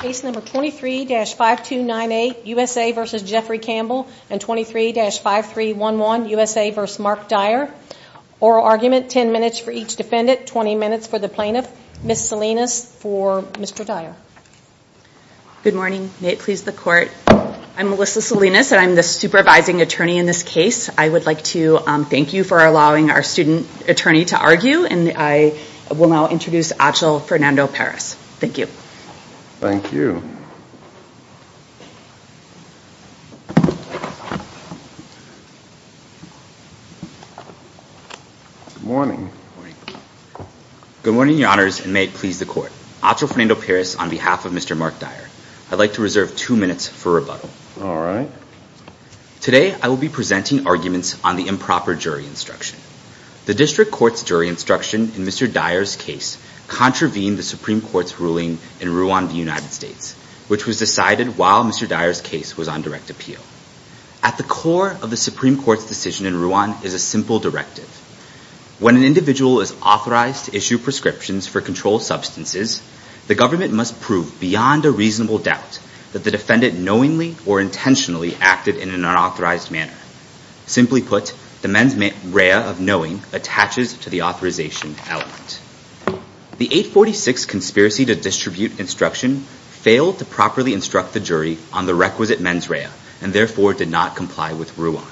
Case number 23-5298, USA v. Jeffrey Campbell and 23-5311, USA v. Mark Dyer. Oral argument, 10 minutes for each defendant, 20 minutes for the plaintiff. Ms. Salinas for Mr. Dyer. Good morning. May it please the court. I'm Melissa Salinas and I'm the supervising attorney in this case. I would like to thank you for allowing our student attorney to argue and I will now introduce Achil Fernando-Perez. Thank you. Thank you. Good morning. Good morning, Your Honors, and may it please the court. Achil Fernando-Perez on behalf of Mr. Mark Dyer. I'd like to reserve two minutes for rebuttal. All right. Today, I will be presenting arguments on the improper jury instruction. The district court's jury instruction in Mr. Dyer's case contravened the Supreme Court's ruling in Ruan v. United States, which was decided while Mr. Dyer's case was on direct appeal. At the core of the Supreme Court's decision in Ruan is a simple directive. When an individual is authorized to issue prescriptions for controlled substances, the government must prove beyond a reasonable doubt that the defendant knowingly or intentionally acted in an unauthorized manner. Simply put, the mens rea of knowing attaches to the authorization element. The 846 conspiracy to distribute instruction failed to properly instruct the jury on the requisite mens rea and therefore did not comply with Ruan.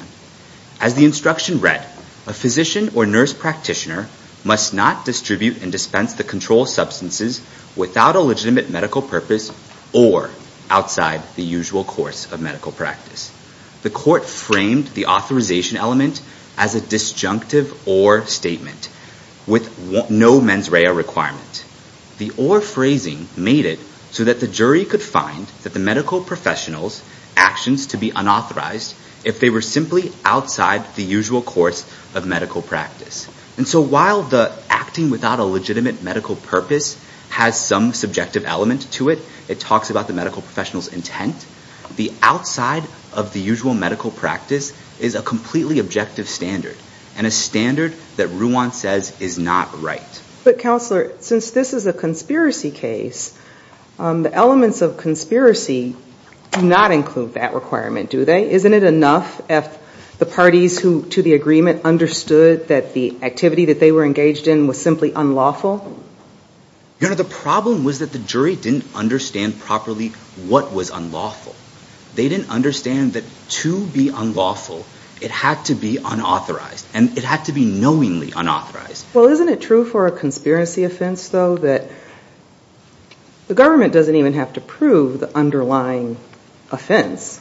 As the instruction read, a physician or nurse practitioner must not distribute and dispense the controlled substances without a legitimate medical purpose or outside the usual course of medical practice. The court framed the authorization element as a disjunctive or statement with no mens rea requirement. The or phrasing made it so that the jury could find that the medical professional's actions to be unauthorized if they were simply outside the usual course of medical practice. And so while the acting without a legitimate medical purpose has some subjective element to it, it talks about the medical professional's intent, the outside of the usual medical practice is a completely objective standard and a standard that Ruan says is not right. But counselor, since this is a conspiracy case, the elements of conspiracy do not include that requirement, do they? Isn't it enough if the parties who to the agreement understood that the activity that they were engaged in was simply unlawful? You know, the problem was that the jury didn't understand properly what was unlawful. They didn't understand that to be unlawful, it had to be unauthorized and it had to be knowingly unauthorized. Well, isn't it true for a conspiracy offense though that the government doesn't even have to prove the underlying offense?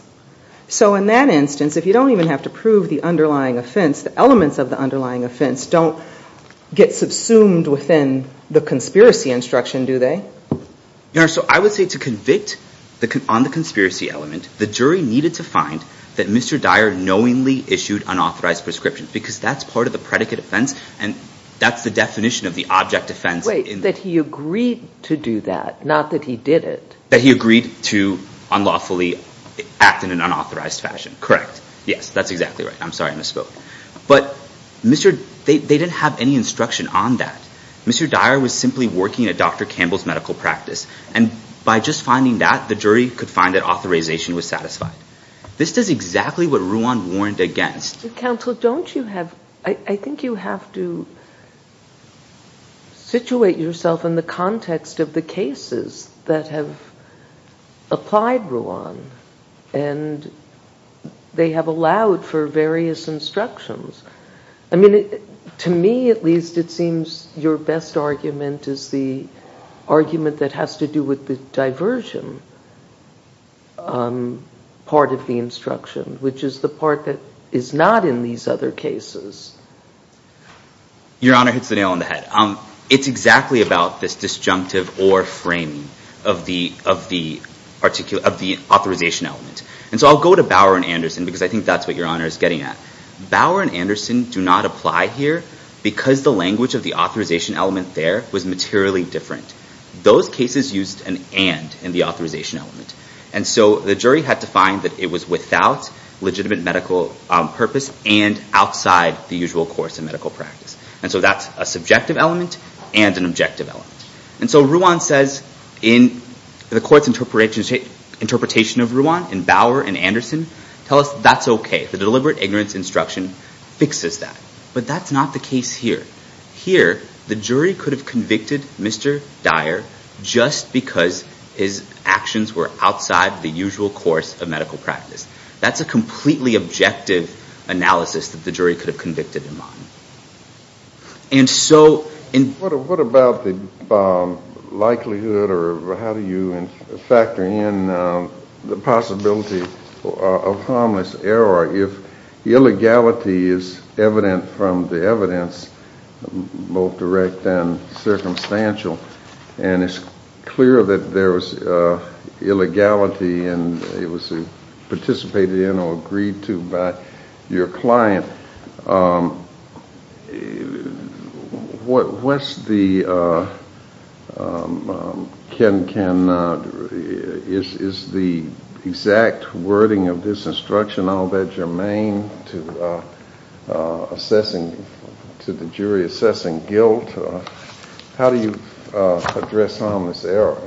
So in that instance, if you don't even have to prove the underlying offense, the elements of the underlying offense don't get subsumed within the conspiracy instruction, do they? You know, so I would say to convict on the conspiracy element, the jury needed to find that Mr. Dyer knowingly issued unauthorized prescription because that's part of the predicate offense and that's the definition of the object offense. Wait, that he agreed to do that, not that he did it. That he agreed to unlawfully act in an unauthorized fashion, correct. Yes, that's exactly right. I'm sorry I misspoke. But they didn't have any instruction on that. Mr. Dyer was simply working at Dr. Campbell's medical practice and by just finding that, the jury could find that authorization was satisfied. This is exactly what Ruan warned against. Counsel, don't you have, I think you have to situate yourself in the context of the cases that have applied Ruan and they have allowed for various instructions. I mean, to me at least, it seems your best argument is the argument that has to do with the diversion part of the instruction, which is the part that is not in these other cases. Your Honor hits the nail on the head. It's exactly about this disjunctive or framing of the authorization element. I'll go to Bauer and Anderson because I think that's what your Honor is getting at. Bauer and Anderson do not apply here because the language of the authorization element there was materially different. Those cases used an and in the authorization element. The jury had to find that it was without legitimate medical purpose and outside the usual course in medical practice. That's a subjective element and an objective element. And so Ruan says in the court's interpretation of Ruan, in Bauer and Anderson, tell us that's okay. The deliberate ignorance instruction fixes that. But that's not the case here. Here, the jury could have convicted Mr. Dyer just because his actions were outside the usual course of medical practice. That's a completely objective analysis that the jury could have convicted him on. And so in... What about the likelihood or how do you factor in the possibility of harmless error if the illegality is evident from the evidence, both direct and circumstantial, and it's clear that there's illegality and it was participated in or agreed to by your client. What's the... Ken, is the exact wording of this instruction all that germane to assessing... to the jury assessing guilt? How do you address harmless error?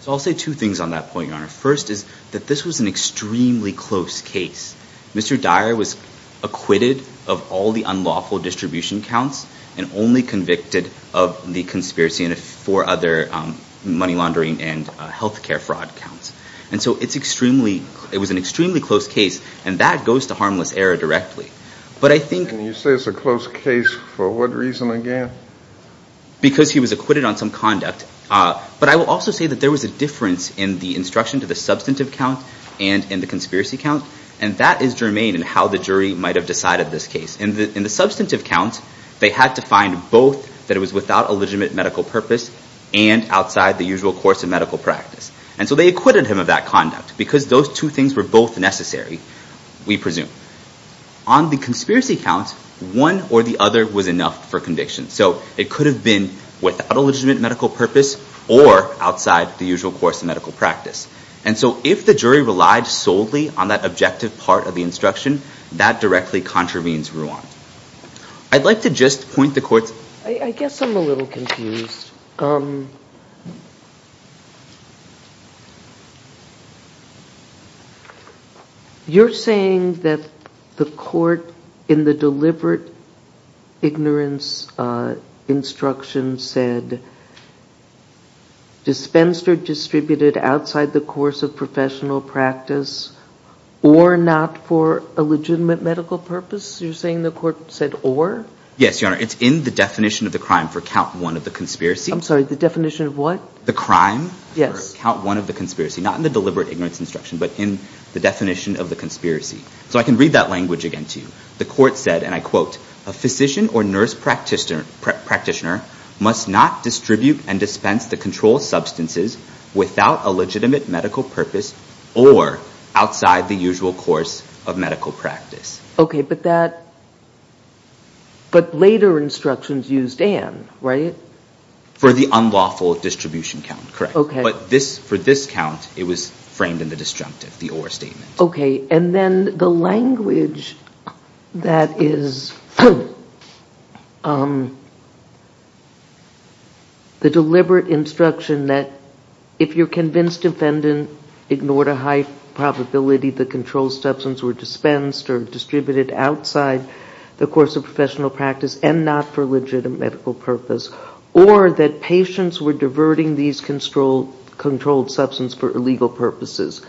So I'll say two things on that point, Your Honor. First is that this was an extremely close case. Mr. Dyer was acquitted of all the unlawful distribution counts and only convicted of the conspiracy and four other money laundering and healthcare fraud counts. And so it's extremely... It was an extremely close case and that goes to harmless error directly. But I think... And you say it's a close case for what reason again? Because he was acquitted on some conduct. But I will also say that there was a difference in the instruction to the substantive count and in the conspiracy count. And that is germane in how the jury might have decided this case. In the substantive count, they had to find both that it was without illegitimate medical purpose and outside the usual course of medical practice. And so they acquitted him of that conduct because those two things were both necessary, we presume. On the conspiracy count, one or the other was enough for conviction. So it could have been without illegitimate medical purpose or outside the usual course of medical practice. And so if the jury relied solely on that objective part of the instruction, that directly contravenes Ruan. I'd like to just point the court's... I guess I'm a little confused. You're saying that the court in the deliberate ignorance instruction said, dispensed or distributed outside the course of professional practice or not for a legitimate medical purpose? You're saying the court said or? Yes, Your Honor. It's in the definition of the crime for count one of the conspiracy. I'm sorry, the definition of what? The crime for count one of the conspiracy. Not in the deliberate ignorance instruction, but in the definition of the conspiracy. So I can read that language again to you. The court said, and I quote, a physician or nurse practitioner must not distribute and dispense the control substances without a legitimate medical purpose or outside the usual course of medical practice. Okay, but later instructions used and, right? For the unlawful distribution count, correct. But for this count, it was framed in the disjunctive, the or statement. Okay, and then the language that is the deliberate instruction that if you're convinced defendant ignored a high probability the control substance were dispensed or distributed outside the course of professional practice and not for legitimate medical purpose or that patients were diverting these controlled substance for illegal purposes.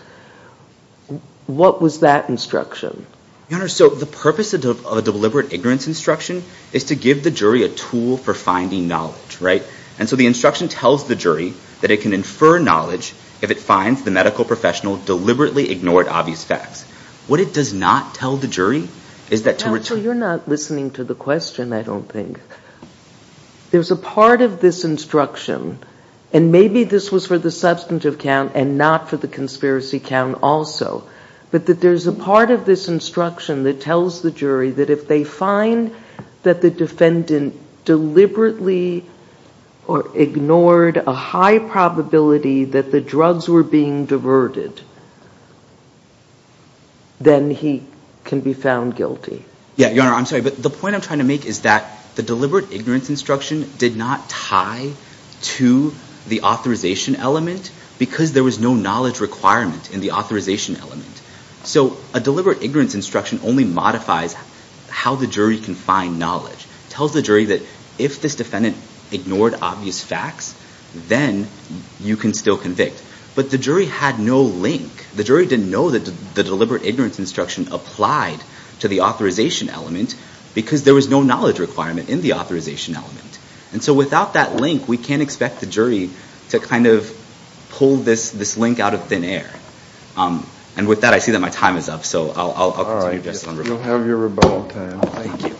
What was that instruction? Your Honor, so the purpose of a deliberate ignorance instruction is to give the jury a tool for finding knowledge, right? And so the instruction tells the jury that it can infer knowledge if it finds the medical professional deliberately ignored obvious facts. What it does not tell the jury is that to return... Counsel, you're not listening to the question, I don't think. There's a part of this instruction and maybe this was for the substantive count and not for the conspiracy count also. But that there's a part of this instruction that tells the jury that if they find that the defendant deliberately or ignored a high probability that the drugs were being diverted, then he can be found guilty. Yeah, Your Honor, I'm sorry, but the point I'm trying to make is that the deliberate ignorance instruction did not tie to the authorization element because there was no knowledge requirement in the authorization element. So a deliberate ignorance instruction only modifies how the jury can find knowledge. It tells the jury that if this defendant ignored obvious facts, then you can still convict. But the jury had no link. The jury didn't know that the deliberate ignorance instruction applied to the authorization element because there was no knowledge requirement in the authorization element. And so without that link, we can't expect the jury to kind of pull this link out of thin air. And with that, I see that my time is up, so I'll continue just on rebuttal. All right, you'll have your rebuttal time. Thank you.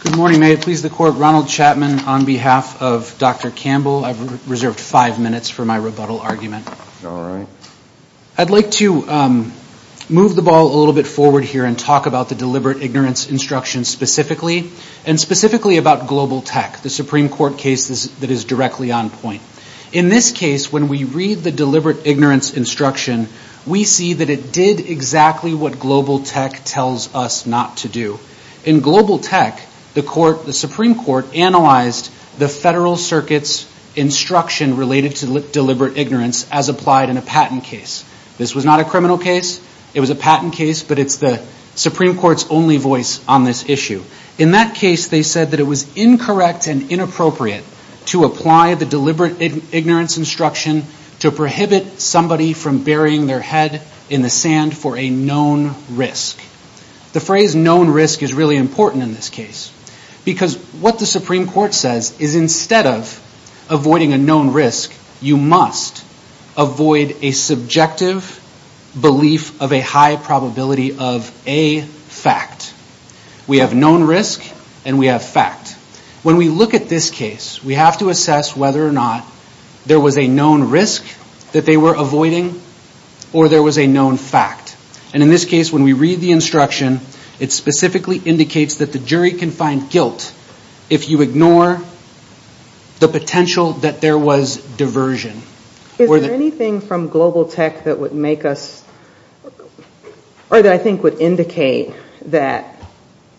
Good morning, may it please the Court. Ronald Chapman on behalf of Dr. Campbell. I've reserved five minutes for my rebuttal argument. I'd like to move the ball a little bit forward here and talk about the deliberate ignorance instruction specifically, and specifically about Global Tech, the Supreme Court case that is directly on point. In this case, when we read the deliberate ignorance instruction, we see that it did exactly what Global Tech tells us not to do. In Global Tech, the Supreme Court analyzed the Federal Circuit's instruction related to deliberate ignorance as applied in a patent case. This was not a criminal case. It was a patent case, but it's the Supreme Court's only voice on this issue. In that case, they said that it was incorrect and inappropriate to apply the deliberate ignorance instruction to prohibit somebody from burying their head in the sand for a known risk. The phrase known risk is really important in this case, because what the Supreme Court says is instead of avoiding a known risk, you must avoid a subjective belief of a high probability of a fact. We have known risk, and we have fact. When we look at this case, we have to assess whether or not there was a known risk that they were avoiding, or there was a known fact. In this case, when we read the instruction, it specifically indicates that the jury can find guilt if you ignore the potential that there was diversion. Is there anything from Global Tech that would make us, or that I think would indicate that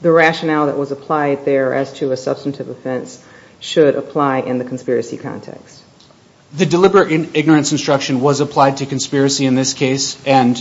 the rationale that was applied there as to a substantive offense should apply in the conspiracy context? The deliberate ignorance instruction was applied to conspiracy in this case, and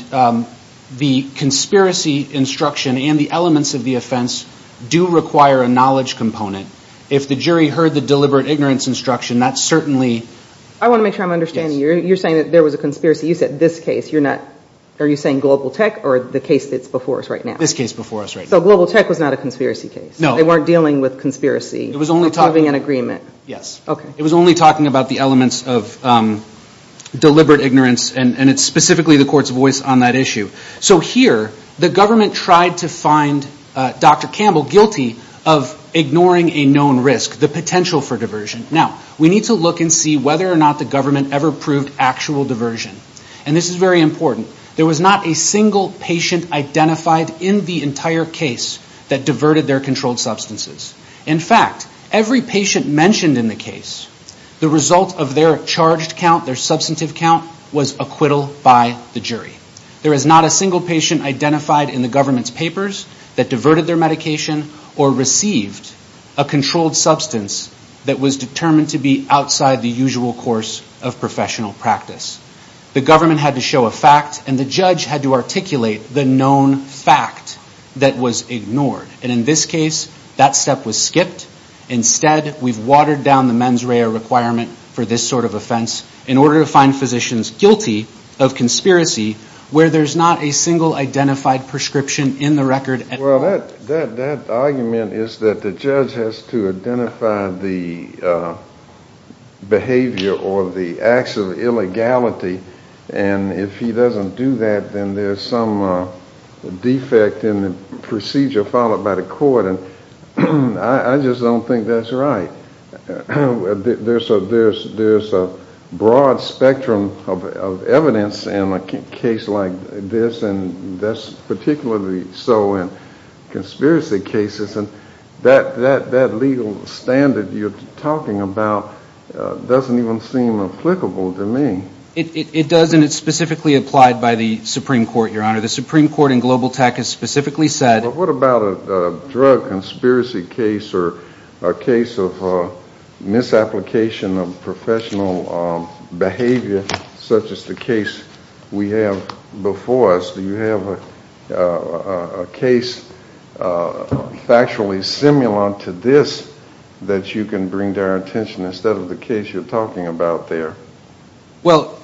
the conspiracy instruction and the elements of the offense do require a knowledge component. If the jury heard the deliberate ignorance instruction, that certainly – I want to make sure I'm understanding you. You're saying that there was a conspiracy. You said this case. You're not – are you saying Global Tech or the case that's before us right now? This case before us right now. So Global Tech was not a conspiracy case? No. They weren't dealing with conspiracy? It was only – Approving an agreement? Yes. Okay. It was only talking about the elements of deliberate ignorance, and it's specifically the court's voice on that issue. So here, the government tried to find Dr. Campbell guilty of ignoring a known risk, the potential for diversion. Now, we need to look and see whether or not the government ever proved actual diversion, and this is very important. There was not a single patient identified in the entire case that diverted their controlled substances. In fact, every patient mentioned in the case, The result of their charged count, their substantive count, was acquittal by the jury. There is not a single patient identified in the government's papers that diverted their medication or received a controlled substance that was determined to be outside the usual course of professional practice. The government had to show a fact, and the judge had to articulate the known fact that was ignored. And in this case, that step was skipped. Instead, we've watered down the mens rea requirement for this sort of offense in order to find physicians guilty of conspiracy where there's not a single identified prescription in the record. Well, that argument is that the judge has to identify the behavior or the acts of illegality, and if he doesn't do that, then there's some defect in the procedure followed by the court. I just don't think that's right. There's a broad spectrum of evidence in a case like this, and that's particularly so in conspiracy cases, and that legal standard you're talking about doesn't even seem applicable to me. It does, and it's specifically applied by the Supreme Court, Your Honor. The Supreme Court in Global Tech has specifically said Well, what about a drug conspiracy case or a case of misapplication of professional behavior, such as the case we have before us? Do you have a case factually similar to this that you can bring to our attention instead of the case you're talking about there? Well,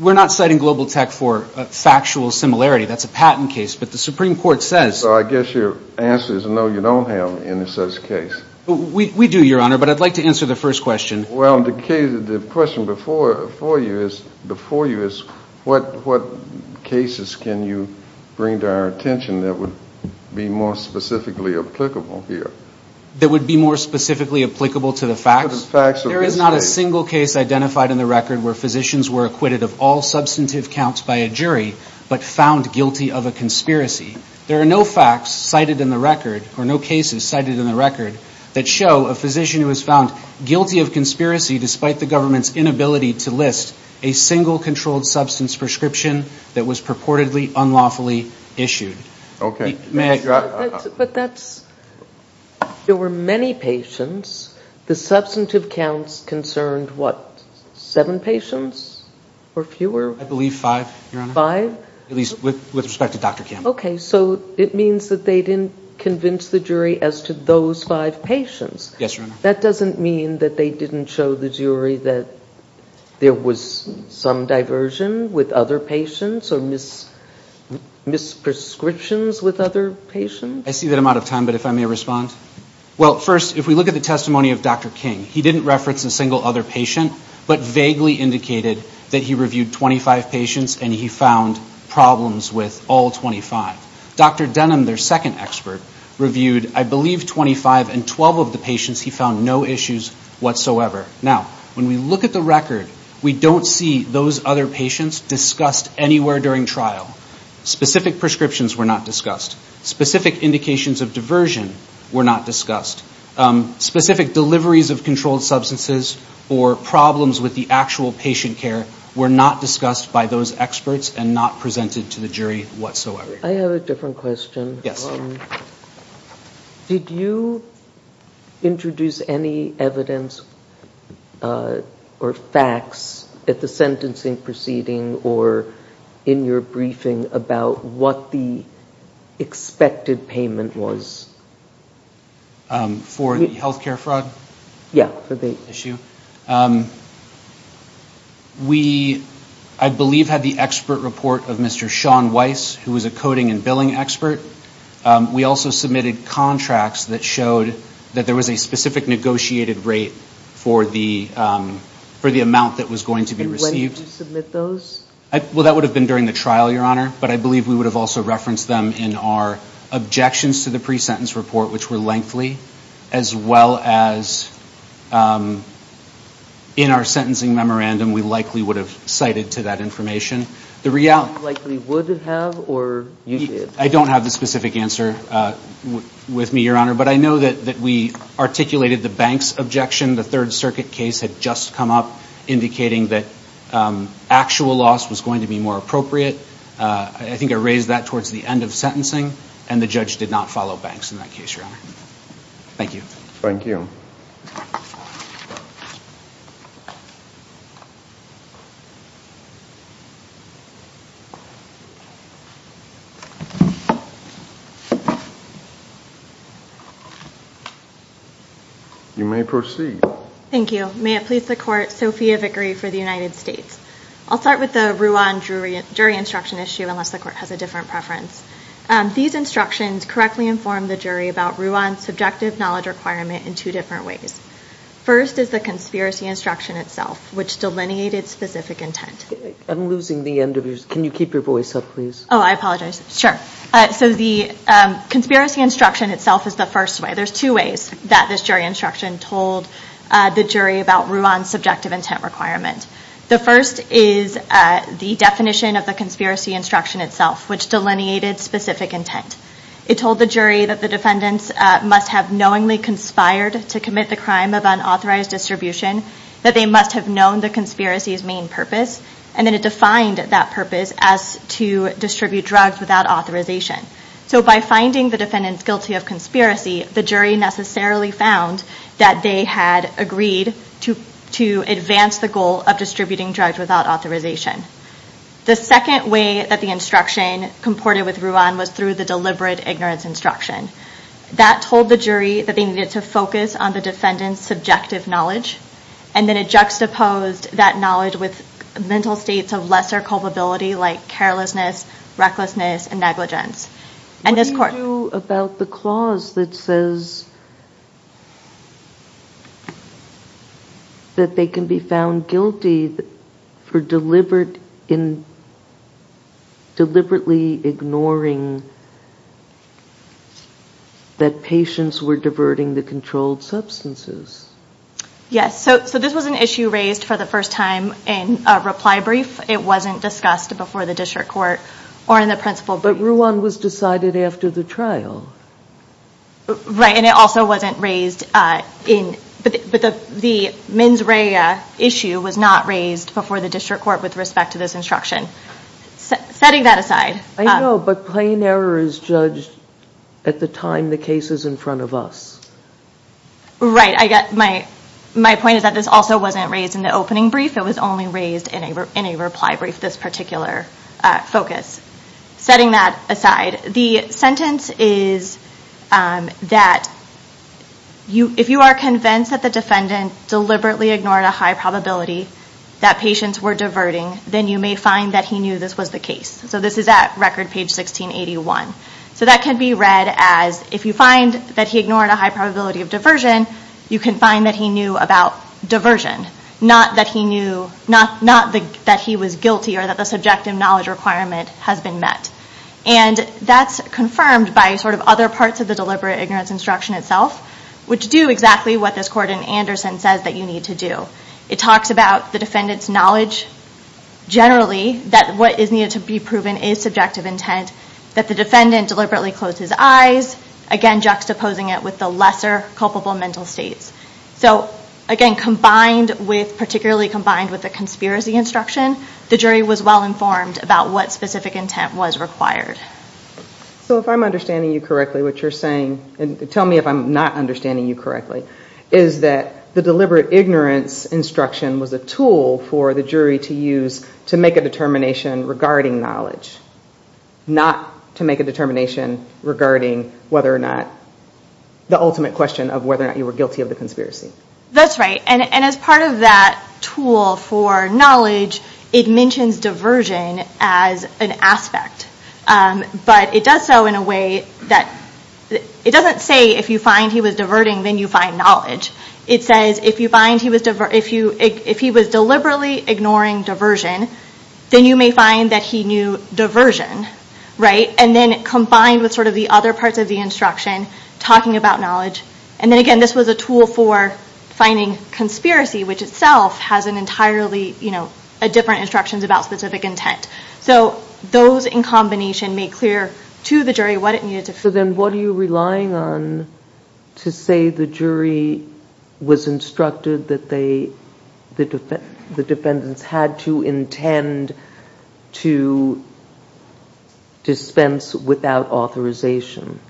we're not citing Global Tech for factual similarity. That's a patent case, but the Supreme Court says So I guess your answer is no, you don't have any such case. We do, Your Honor, but I'd like to answer the first question. Well, the question before you is what cases can you bring to our attention that would be more specifically applicable here? That would be more specifically applicable to the facts? There is not a single case identified in the record where physicians were acquitted of all substantive counts by a jury but found guilty of a conspiracy. There are no facts cited in the record or no cases cited in the record that show a physician who was found guilty of conspiracy, despite the government's inability to list a single controlled substance prescription that was purportedly unlawfully issued. Okay. But that's – there were many patients. The substantive counts concerned, what, seven patients or fewer? I believe five, Your Honor. Five? At least with respect to Dr. Campbell. Okay. So it means that they didn't convince the jury as to those five patients. Yes, Your Honor. That doesn't mean that they didn't show the jury that there was some diversion with other patients or mis-prescriptions with other patients? I see that I'm out of time, but if I may respond. Well, first, if we look at the testimony of Dr. King, he didn't reference a single other patient but vaguely indicated that he reviewed 25 patients and he found problems with all 25. Dr. Denham, their second expert, reviewed, I believe, 25 and 12 of the patients. He found no issues whatsoever. Now, when we look at the record, we don't see those other patients discussed anywhere during trial. Specific prescriptions were not discussed. Specific indications of diversion were not discussed. Specific deliveries of controlled substances or problems with the actual patient care were not discussed by those experts and not presented to the jury whatsoever. I have a different question. Yes, Your Honor. Did you introduce any evidence or facts at the sentencing proceeding or in your briefing about what the expected payment was? For the health care fraud? Yes, for the issue. We, I believe, had the expert report of Mr. Sean Weiss, who was a coding and billing expert. We also submitted contracts that showed that there was a specific negotiated rate for the amount that was going to be received. And when did you submit those? Well, that would have been during the trial, Your Honor, but I believe we would have also referenced them in our objections to the pre-sentence report, which were lengthy, as well as in our sentencing memorandum. We likely would have cited to that information. You likely would have or you did? I don't have the specific answer with me, Your Honor, but I know that we articulated the banks' objection. The Third Circuit case had just come up indicating that actual loss was going to be more appropriate. I think I raised that towards the end of sentencing, and the judge did not follow banks in that case, Your Honor. Thank you. Thank you. You may proceed. Thank you. May it please the Court, Sophia Vickery for the United States. I'll start with the Ruan jury instruction issue, unless the Court has a different preference. These instructions correctly inform the jury about Ruan's subjective knowledge requirement in two different ways. First is the conspiracy instruction itself, which delineated specific intent. I'm losing the end of yours. Can you keep your voice up, please? Oh, I apologize. Sure. So the conspiracy instruction itself is the first way. There's two ways that this jury instruction told the jury about Ruan's subjective intent requirement. The first is the definition of the conspiracy instruction itself, which delineated specific intent. It told the jury that the defendants must have knowingly conspired to commit the crime of unauthorized distribution, that they must have known the conspiracy's main purpose, and then it defined that purpose as to distribute drugs without authorization. So by finding the defendants guilty of conspiracy, the jury necessarily found that they had agreed to advance the goal of distributing drugs without authorization. The second way that the instruction comported with Ruan was through the deliberate ignorance instruction. That told the jury that they needed to focus on the defendant's subjective knowledge, and then it juxtaposed that knowledge with mental states of lesser culpability, like carelessness, recklessness, and negligence. What do you do about the clause that says that they can be found guilty for deliberately ignoring that patients were diverting the controlled substances? Yes, so this was an issue raised for the first time in a reply brief. It wasn't discussed before the district court or in the principal brief. But Ruan was decided after the trial. Right, and it also wasn't raised, but the mens rea issue was not raised before the district court with respect to this instruction. Setting that aside. I know, but plain error is judged at the time the case is in front of us. Right, my point is that this also wasn't raised in the opening brief. It was only raised in a reply brief, this particular focus. Setting that aside, the sentence is that if you are convinced that the defendant deliberately ignored a high probability that patients were diverting, then you may find that he knew this was the case. So this is at record page 1681. So that can be read as, if you find that he ignored a high probability of diversion, you can find that he knew about diversion. Not that he was guilty or that the subjective knowledge requirement has been met. And that's confirmed by sort of other parts of the deliberate ignorance instruction itself, which do exactly what this court in Anderson says that you need to do. It talks about the defendant's knowledge, generally, that what is needed to be proven is subjective intent, that the defendant deliberately closed his eyes, again juxtaposing it with the lesser culpable mental states. So again, combined with, particularly combined with the conspiracy instruction, the jury was well informed about what specific intent was required. So if I'm understanding you correctly, what you're saying, and tell me if I'm not understanding you correctly, is that the deliberate ignorance instruction was a tool for the jury to use to make a determination regarding knowledge, not to make a determination regarding whether or not, the ultimate question of whether or not you were guilty of the conspiracy. That's right. And as part of that tool for knowledge, it mentions diversion as an aspect. But it does so in a way that, it doesn't say if you find he was diverting, then you find knowledge. It says if you find he was, if he was deliberately ignoring diversion, then you may find that he knew diversion, right? And then combined with sort of the other parts of the instruction, talking about knowledge. And then again, this was a tool for finding conspiracy, which itself has an entirely, you know, different instructions about specific intent. So those in combination made clear to the jury what it needed to prove. So then what are you relying on to say the jury was instructed that they, the defendants had to intend to dispense without authorization?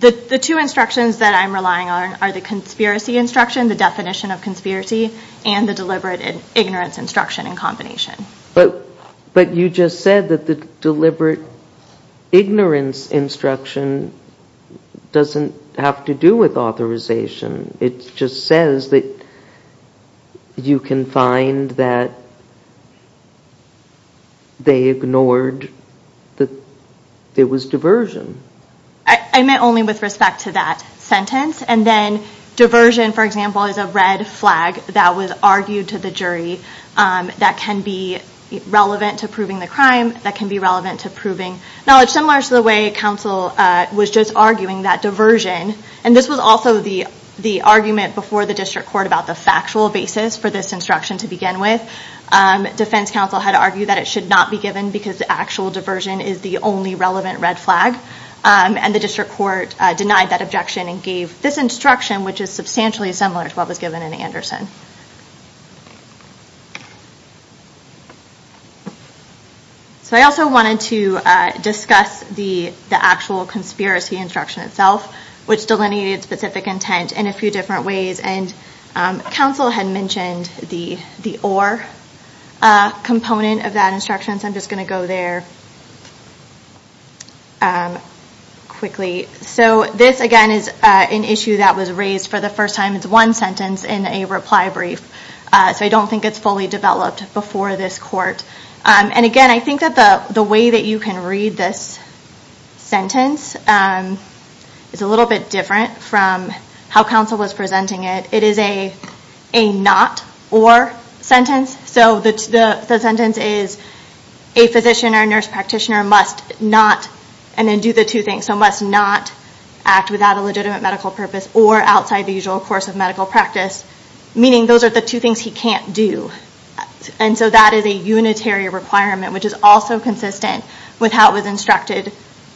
The two instructions that I'm relying on are the conspiracy instruction, the definition of conspiracy, and the deliberate ignorance instruction in combination. But you just said that the deliberate ignorance instruction doesn't have to do with authorization. It just says that you can find that they ignored that there was diversion. I meant only with respect to that sentence. And then diversion, for example, is a red flag that was argued to the jury that can be relevant to proving the crime, that can be relevant to proving knowledge. Similar to the way counsel was just arguing that diversion, and this was also the argument before the district court about the factual basis for this instruction to begin with. Defense counsel had argued that it should not be given because the actual diversion is the only relevant red flag. And the district court denied that objection and gave this instruction, which is substantially similar to what was given in Anderson. So I also wanted to discuss the actual conspiracy instruction itself, which delineated specific intent in a few different ways. And counsel had mentioned the or component of that instruction, so I'm just going to go there quickly. So this, again, is an issue that was raised for the first time. It's one sentence in a reply brief, so I don't think it's fully developed before this court. And again, I think that the way that you can read this sentence is a little bit different from how counsel was presenting it. It is a not or sentence, so the sentence is, a physician or nurse practitioner must not, and then do the two things, so must not act without a legitimate medical purpose or outside the usual course of medical practice, meaning those are the two things he can't do. And so that is a unitary requirement, which is also consistent with how it was instructed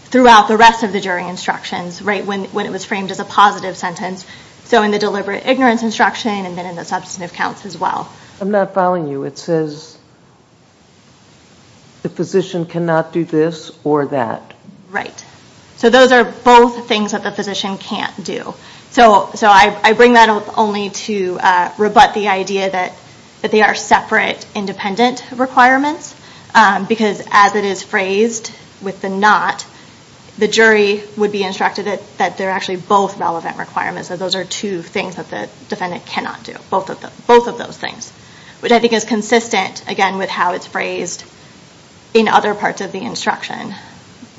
throughout the rest of the jury instructions when it was framed as a positive sentence, so in the deliberate ignorance instruction and then in the substantive counts as well. I'm not following you. It says the physician cannot do this or that. Right. So those are both things that the physician can't do. So I bring that up only to rebut the idea that they are separate, independent requirements, because as it is phrased with the not, the jury would be instructed that they're actually both relevant requirements, that those are two things that the defendant cannot do, both of those things, which I think is consistent, again, with how it's phrased in other parts of the instruction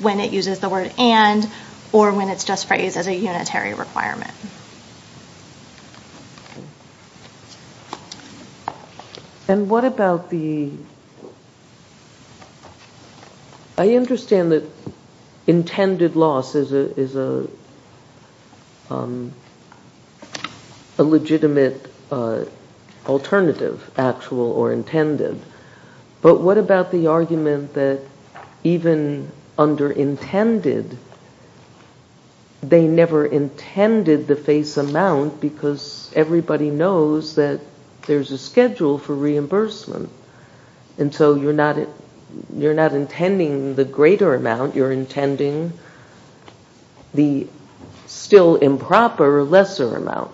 when it uses the word and or when it's just phrased as a unitary requirement. And what about the... I understand that intended loss is a legitimate alternative, actual or intended, but what about the argument that even under intended, they never intended the face amount because everybody knows that there's a schedule for reimbursement, and so you're not intending the greater amount, you're intending the still improper lesser amount.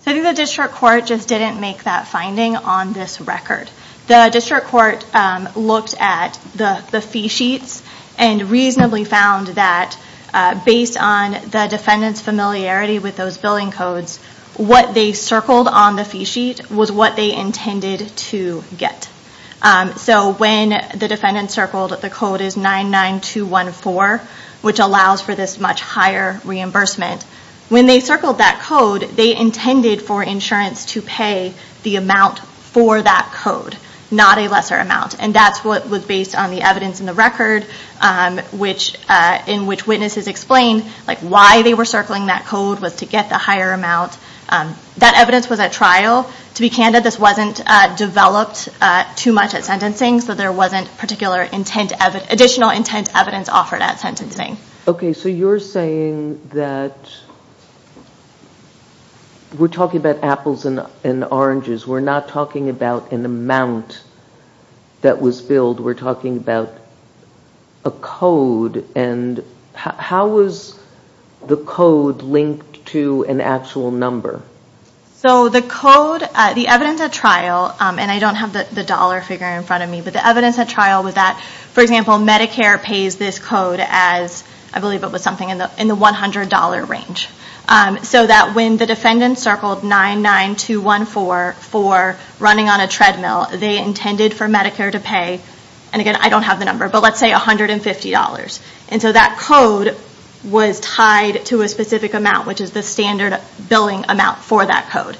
So I think the district court just didn't make that finding on this record. The district court looked at the fee sheets and reasonably found that based on the defendant's familiarity with those billing codes, what they circled on the fee sheet was what they intended to get. So when the defendant circled, the code is 99214, which allows for this much higher reimbursement. When they circled that code, they intended for insurance to pay the amount for that code, not a lesser amount. And that's what was based on the evidence in the record in which witnesses explained why they were circling that code was to get the higher amount. That evidence was at trial. To be candid, this wasn't developed too much at sentencing, so there wasn't additional intent evidence offered at sentencing. Okay, so you're saying that we're talking about apples and oranges. We're not talking about an amount that was billed. We're talking about a code, and how was the code linked to an actual number? So the code, the evidence at trial, and I don't have the dollar figure in front of me, but the evidence at trial was that, for example, Medicare pays this code as, I believe it was something in the $100 range. So that when the defendant circled 99214 for running on a treadmill, they intended for Medicare to pay, and again, I don't have the number, but let's say $150. And so that code was tied to a specific amount, which is the standard billing amount for that code.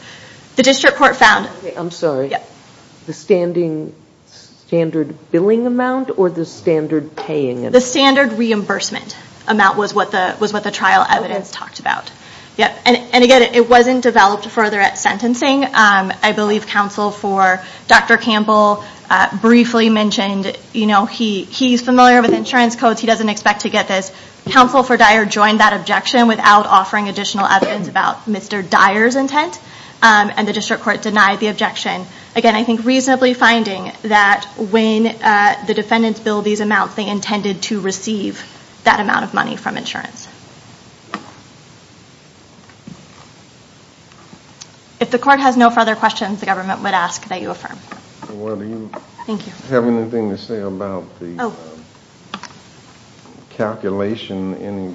Okay, I'm sorry. The standard billing amount or the standard paying amount? The standard reimbursement amount was what the trial evidence talked about. And again, it wasn't developed further at sentencing. I believe counsel for Dr. Campbell briefly mentioned he's familiar with insurance codes. He doesn't expect to get this. Counsel for Dyer joined that objection without offering additional evidence about Mr. Dyer's intent, and the district court denied the objection. Again, I think reasonably finding that when the defendants billed these amounts, they intended to receive that amount of money from insurance. If the court has no further questions, the government would ask that you affirm. Thank you. Do you have anything to say about the calculation, any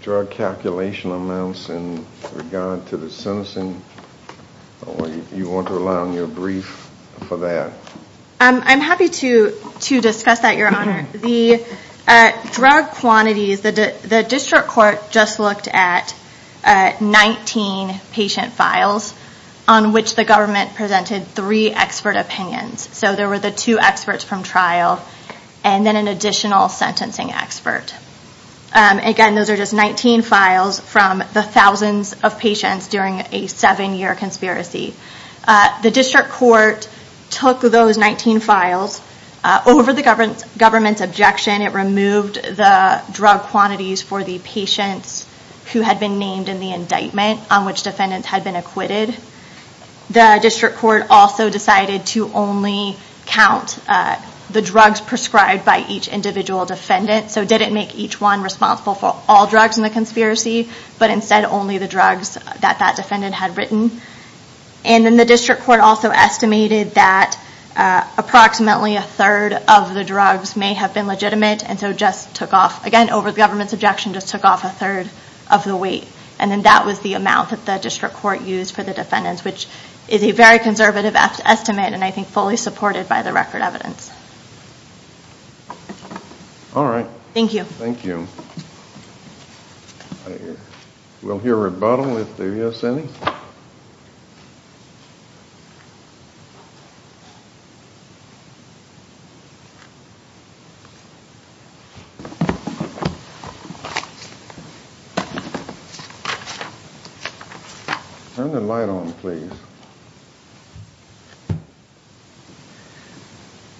drug calculation amounts in regard to the sentencing? Or do you want to rely on your brief for that? I'm happy to discuss that, Your Honor. The drug quantities, the district court just looked at 19 patient files on which the government presented three expert opinions. So there were the two experts from trial and then an additional sentencing expert. Again, those are just 19 files from the thousands of patients during a seven-year conspiracy. The district court took those 19 files. Over the government's objection, it removed the drug quantities for the patients who had been named in the indictment on which defendants had been acquitted. The district court also decided to only count the drugs prescribed by each individual defendant. So it didn't make each one responsible for all drugs in the conspiracy, but instead only the drugs that that defendant had written. The district court also estimated that approximately a third of the drugs may have been legitimate. Again, over the government's objection, it just took off a third of the weight. That was the amount that the district court used for the defendants, which is a very conservative estimate and I think fully supported by the record evidence. All right. Thank you. Thank you. We'll hear a rebuttal if there is any. Turn the light on, please.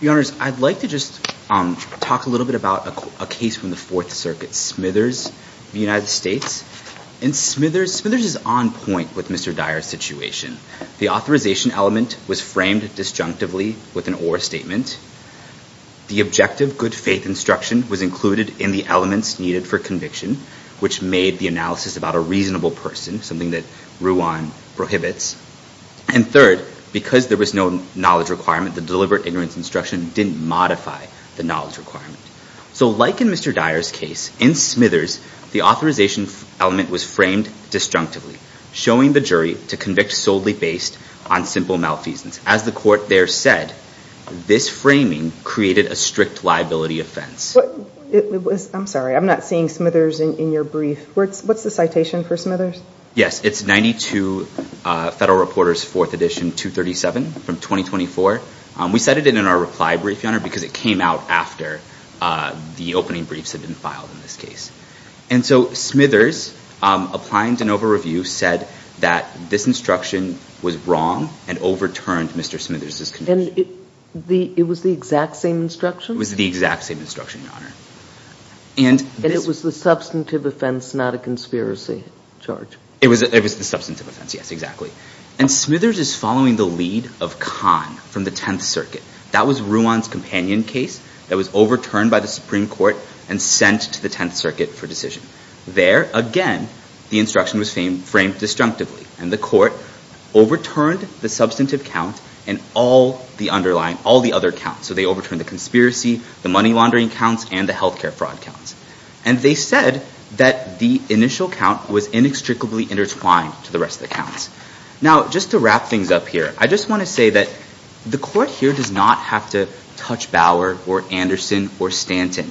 Your Honors, I'd like to just talk a little bit about a case from the Fourth Circuit, Smithers v. United States. And Smithers is on point with Mr. Dyer's situation. The authorization element was framed disjunctively with an or statement. The objective good faith instruction was included in the elements needed for conviction, which made the analysis about a reasonable person, something that Ruan prohibits. And third, because there was no knowledge requirement, the deliberate ignorance instruction didn't modify the knowledge requirement. So like in Mr. Dyer's case, in Smithers, the authorization element was framed disjunctively, showing the jury to convict solely based on simple malfeasance. As the court there said, this framing created a strict liability offense. I'm sorry. I'm not seeing Smithers in your brief. What's the citation for Smithers? Yes, it's 92 Federal Reporters Fourth Edition 237 from 2024. We cited it in our reply brief, Your Honor, because it came out after the opening briefs had been filed in this case. And so Smithers, applying de novo review, said that this instruction was wrong and overturned Mr. Smithers' conviction. And it was the exact same instruction? It was the exact same instruction, Your Honor. And it was the substantive offense, not a conspiracy charge? It was the substantive offense, yes, exactly. And Smithers is following the lead of Kahn from the Tenth Circuit. That was Ruan's companion case that was overturned by the Supreme Court and sent to the Tenth Circuit for decision. There, again, the instruction was framed disjunctively, and the court overturned the substantive count and all the underlying, all the other counts. So they overturned the conspiracy, the money laundering counts, and the health care fraud counts. And they said that the initial count was inextricably intertwined to the rest of the counts. Now, just to wrap things up here, I just want to say that the court here does not have to touch Bauer or Anderson or Stanton.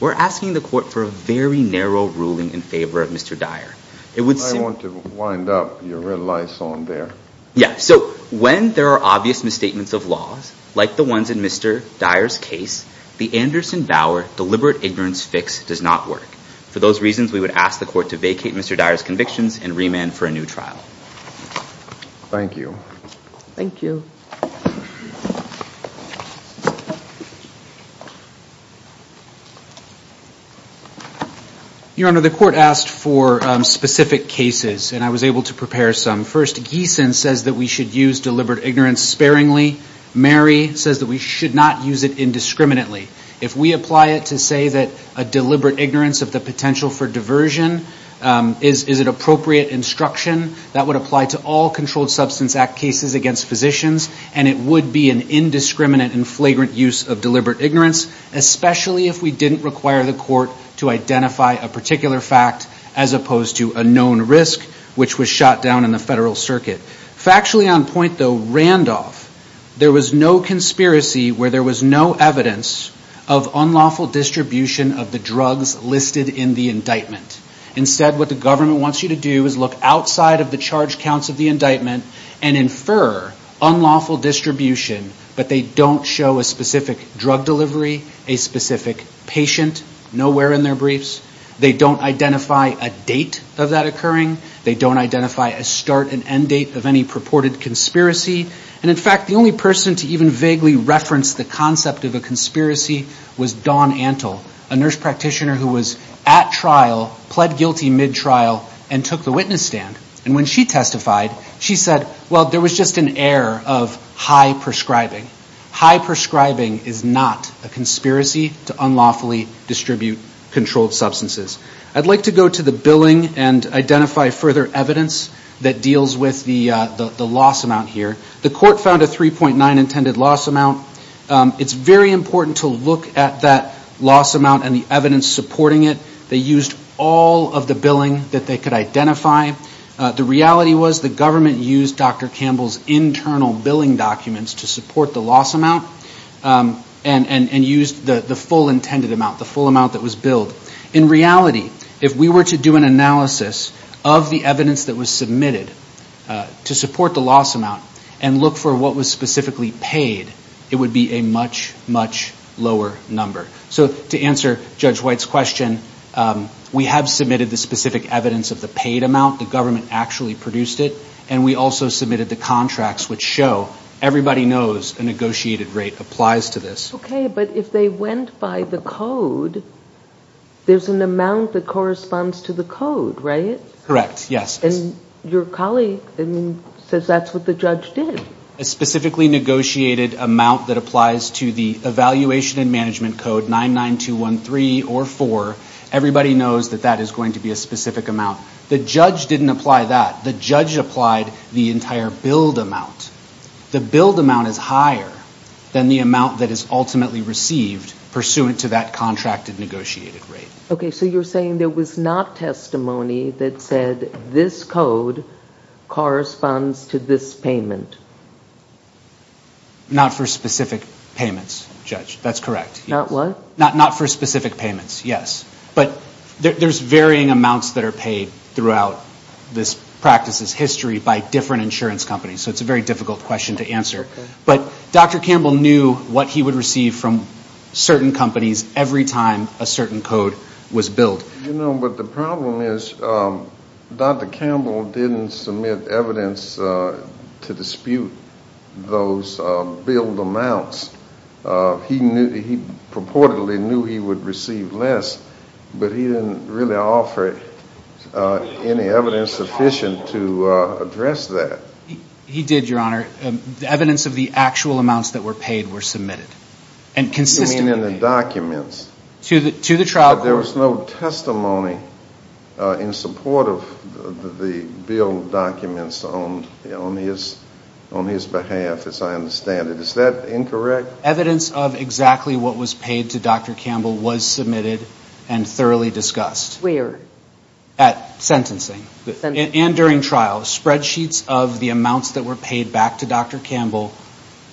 We're asking the court for a very narrow ruling in favor of Mr. Dyer. I want to wind up your red lice on there. Yeah, so when there are obvious misstatements of laws, like the ones in Mr. Dyer's case, the Anderson-Bauer deliberate ignorance fix does not work. For those reasons, we would ask the court to vacate Mr. Dyer's convictions and remand for a new trial. Thank you. Thank you. Your Honor, the court asked for specific cases, and I was able to prepare some. First, Giesen says that we should use deliberate ignorance sparingly. Mary says that we should not use it indiscriminately. If we apply it to say that a deliberate ignorance of the potential for diversion is an appropriate instruction, that would apply to all Controlled Substance Act cases against physicians, and it would be an indiscriminate and flagrant use of deliberate ignorance, especially if we didn't require the court to identify a particular fact as opposed to a known risk, which was shot down in the federal circuit. Factually on point, though, Randolph, there was no conspiracy where there was no evidence of unlawful distribution of the drugs listed in the indictment. Instead, what the government wants you to do is look outside of the charge counts of the indictment and infer unlawful distribution, but they don't show a specific drug delivery, a specific patient, nowhere in their briefs. They don't identify a date of that occurring. They don't identify a start and end date of any purported conspiracy. And, in fact, the only person to even vaguely reference the concept of a conspiracy was Dawn Antle, a nurse practitioner who was at trial, pled guilty mid-trial, and took the witness stand. And when she testified, she said, well, there was just an air of high prescribing. High prescribing is not a conspiracy to unlawfully distribute controlled substances. I'd like to go to the billing and identify further evidence that deals with the loss amount here. The court found a 3.9 intended loss amount. It's very important to look at that loss amount and the evidence supporting it. They used all of the billing that they could identify. The reality was the government used Dr. Campbell's internal billing documents to support the loss amount and used the full intended amount, the full amount that was billed. In reality, if we were to do an analysis of the evidence that was submitted to support the loss amount and look for what was specifically paid, it would be a much, much lower number. So to answer Judge White's question, we have submitted the specific evidence of the paid amount. The government actually produced it. And we also submitted the contracts which show everybody knows a negotiated rate applies to this. Okay, but if they went by the code, there's an amount that corresponds to the code, right? Correct, yes. And your colleague says that's what the judge did. A specifically negotiated amount that applies to the evaluation and management code 99213 or 4, everybody knows that that is going to be a specific amount. The judge didn't apply that. The judge applied the entire billed amount. The billed amount is higher than the amount that is ultimately received pursuant to that contracted negotiated rate. Okay, so you're saying there was not testimony that said this code corresponds to this payment? Not for specific payments, Judge. That's correct. Not what? Not for specific payments, yes. But there's varying amounts that are paid throughout this practice's history by different insurance companies. So it's a very difficult question to answer. But Dr. Campbell knew what he would receive from certain companies every time a certain code was billed. You know, but the problem is Dr. Campbell didn't submit evidence to dispute those billed amounts. He purportedly knew he would receive less, but he didn't really offer any evidence sufficient to address that. He did, Your Honor. Evidence of the actual amounts that were paid were submitted. And consistently. You mean in the documents? To the trial court. But there was no testimony in support of the billed documents on his behalf, as I understand it. Is that incorrect? Evidence of exactly what was paid to Dr. Campbell was submitted and thoroughly discussed. Where? At sentencing. Sentencing. And during trial. Spreadsheets of the amounts that were paid back to Dr. Campbell.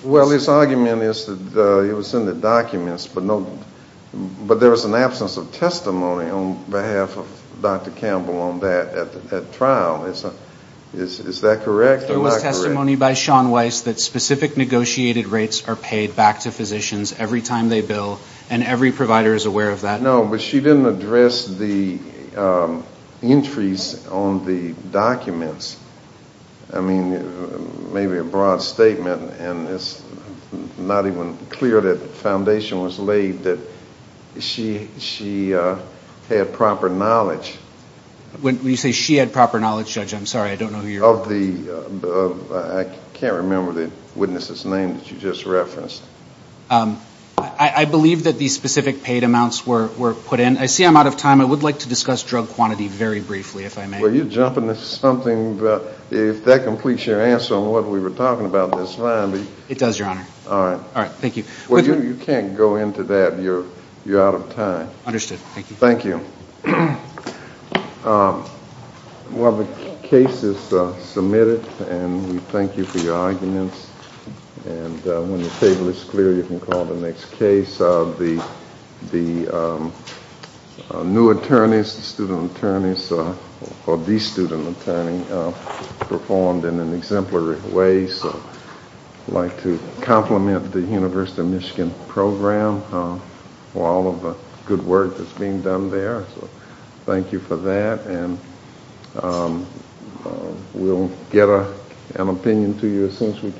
Well, his argument is that it was in the documents, but there was an absence of testimony on behalf of Dr. Campbell on that trial. Is that correct or not correct? There was testimony by Sean Weiss that specific negotiated rates are paid back to physicians every time they bill, and every provider is aware of that. No, but she didn't address the entries on the documents. I mean, maybe a broad statement, and it's not even clear that the foundation was laid that she had proper knowledge. When you say she had proper knowledge, Judge, I'm sorry, I don't know who you're referring to. I can't remember the witness's name that you just referenced. I believe that the specific paid amounts were put in. I see I'm out of time. I would like to discuss drug quantity very briefly, if I may. Well, you're jumping to something, but if that completes your answer on what we were talking about, that's fine. It does, Your Honor. All right. All right. Thank you. Well, you can't go into that. You're out of time. Understood. Thank you. Thank you. Well, the case is submitted, and we thank you for your arguments. And when the table is clear, you can call the next case. The new attorneys, the student attorneys, or the student attorney, performed in an exemplary way. I'd like to compliment the University of Michigan program for all of the good work that's being done there. Thank you for that, and we'll get an opinion to you as soon as we can.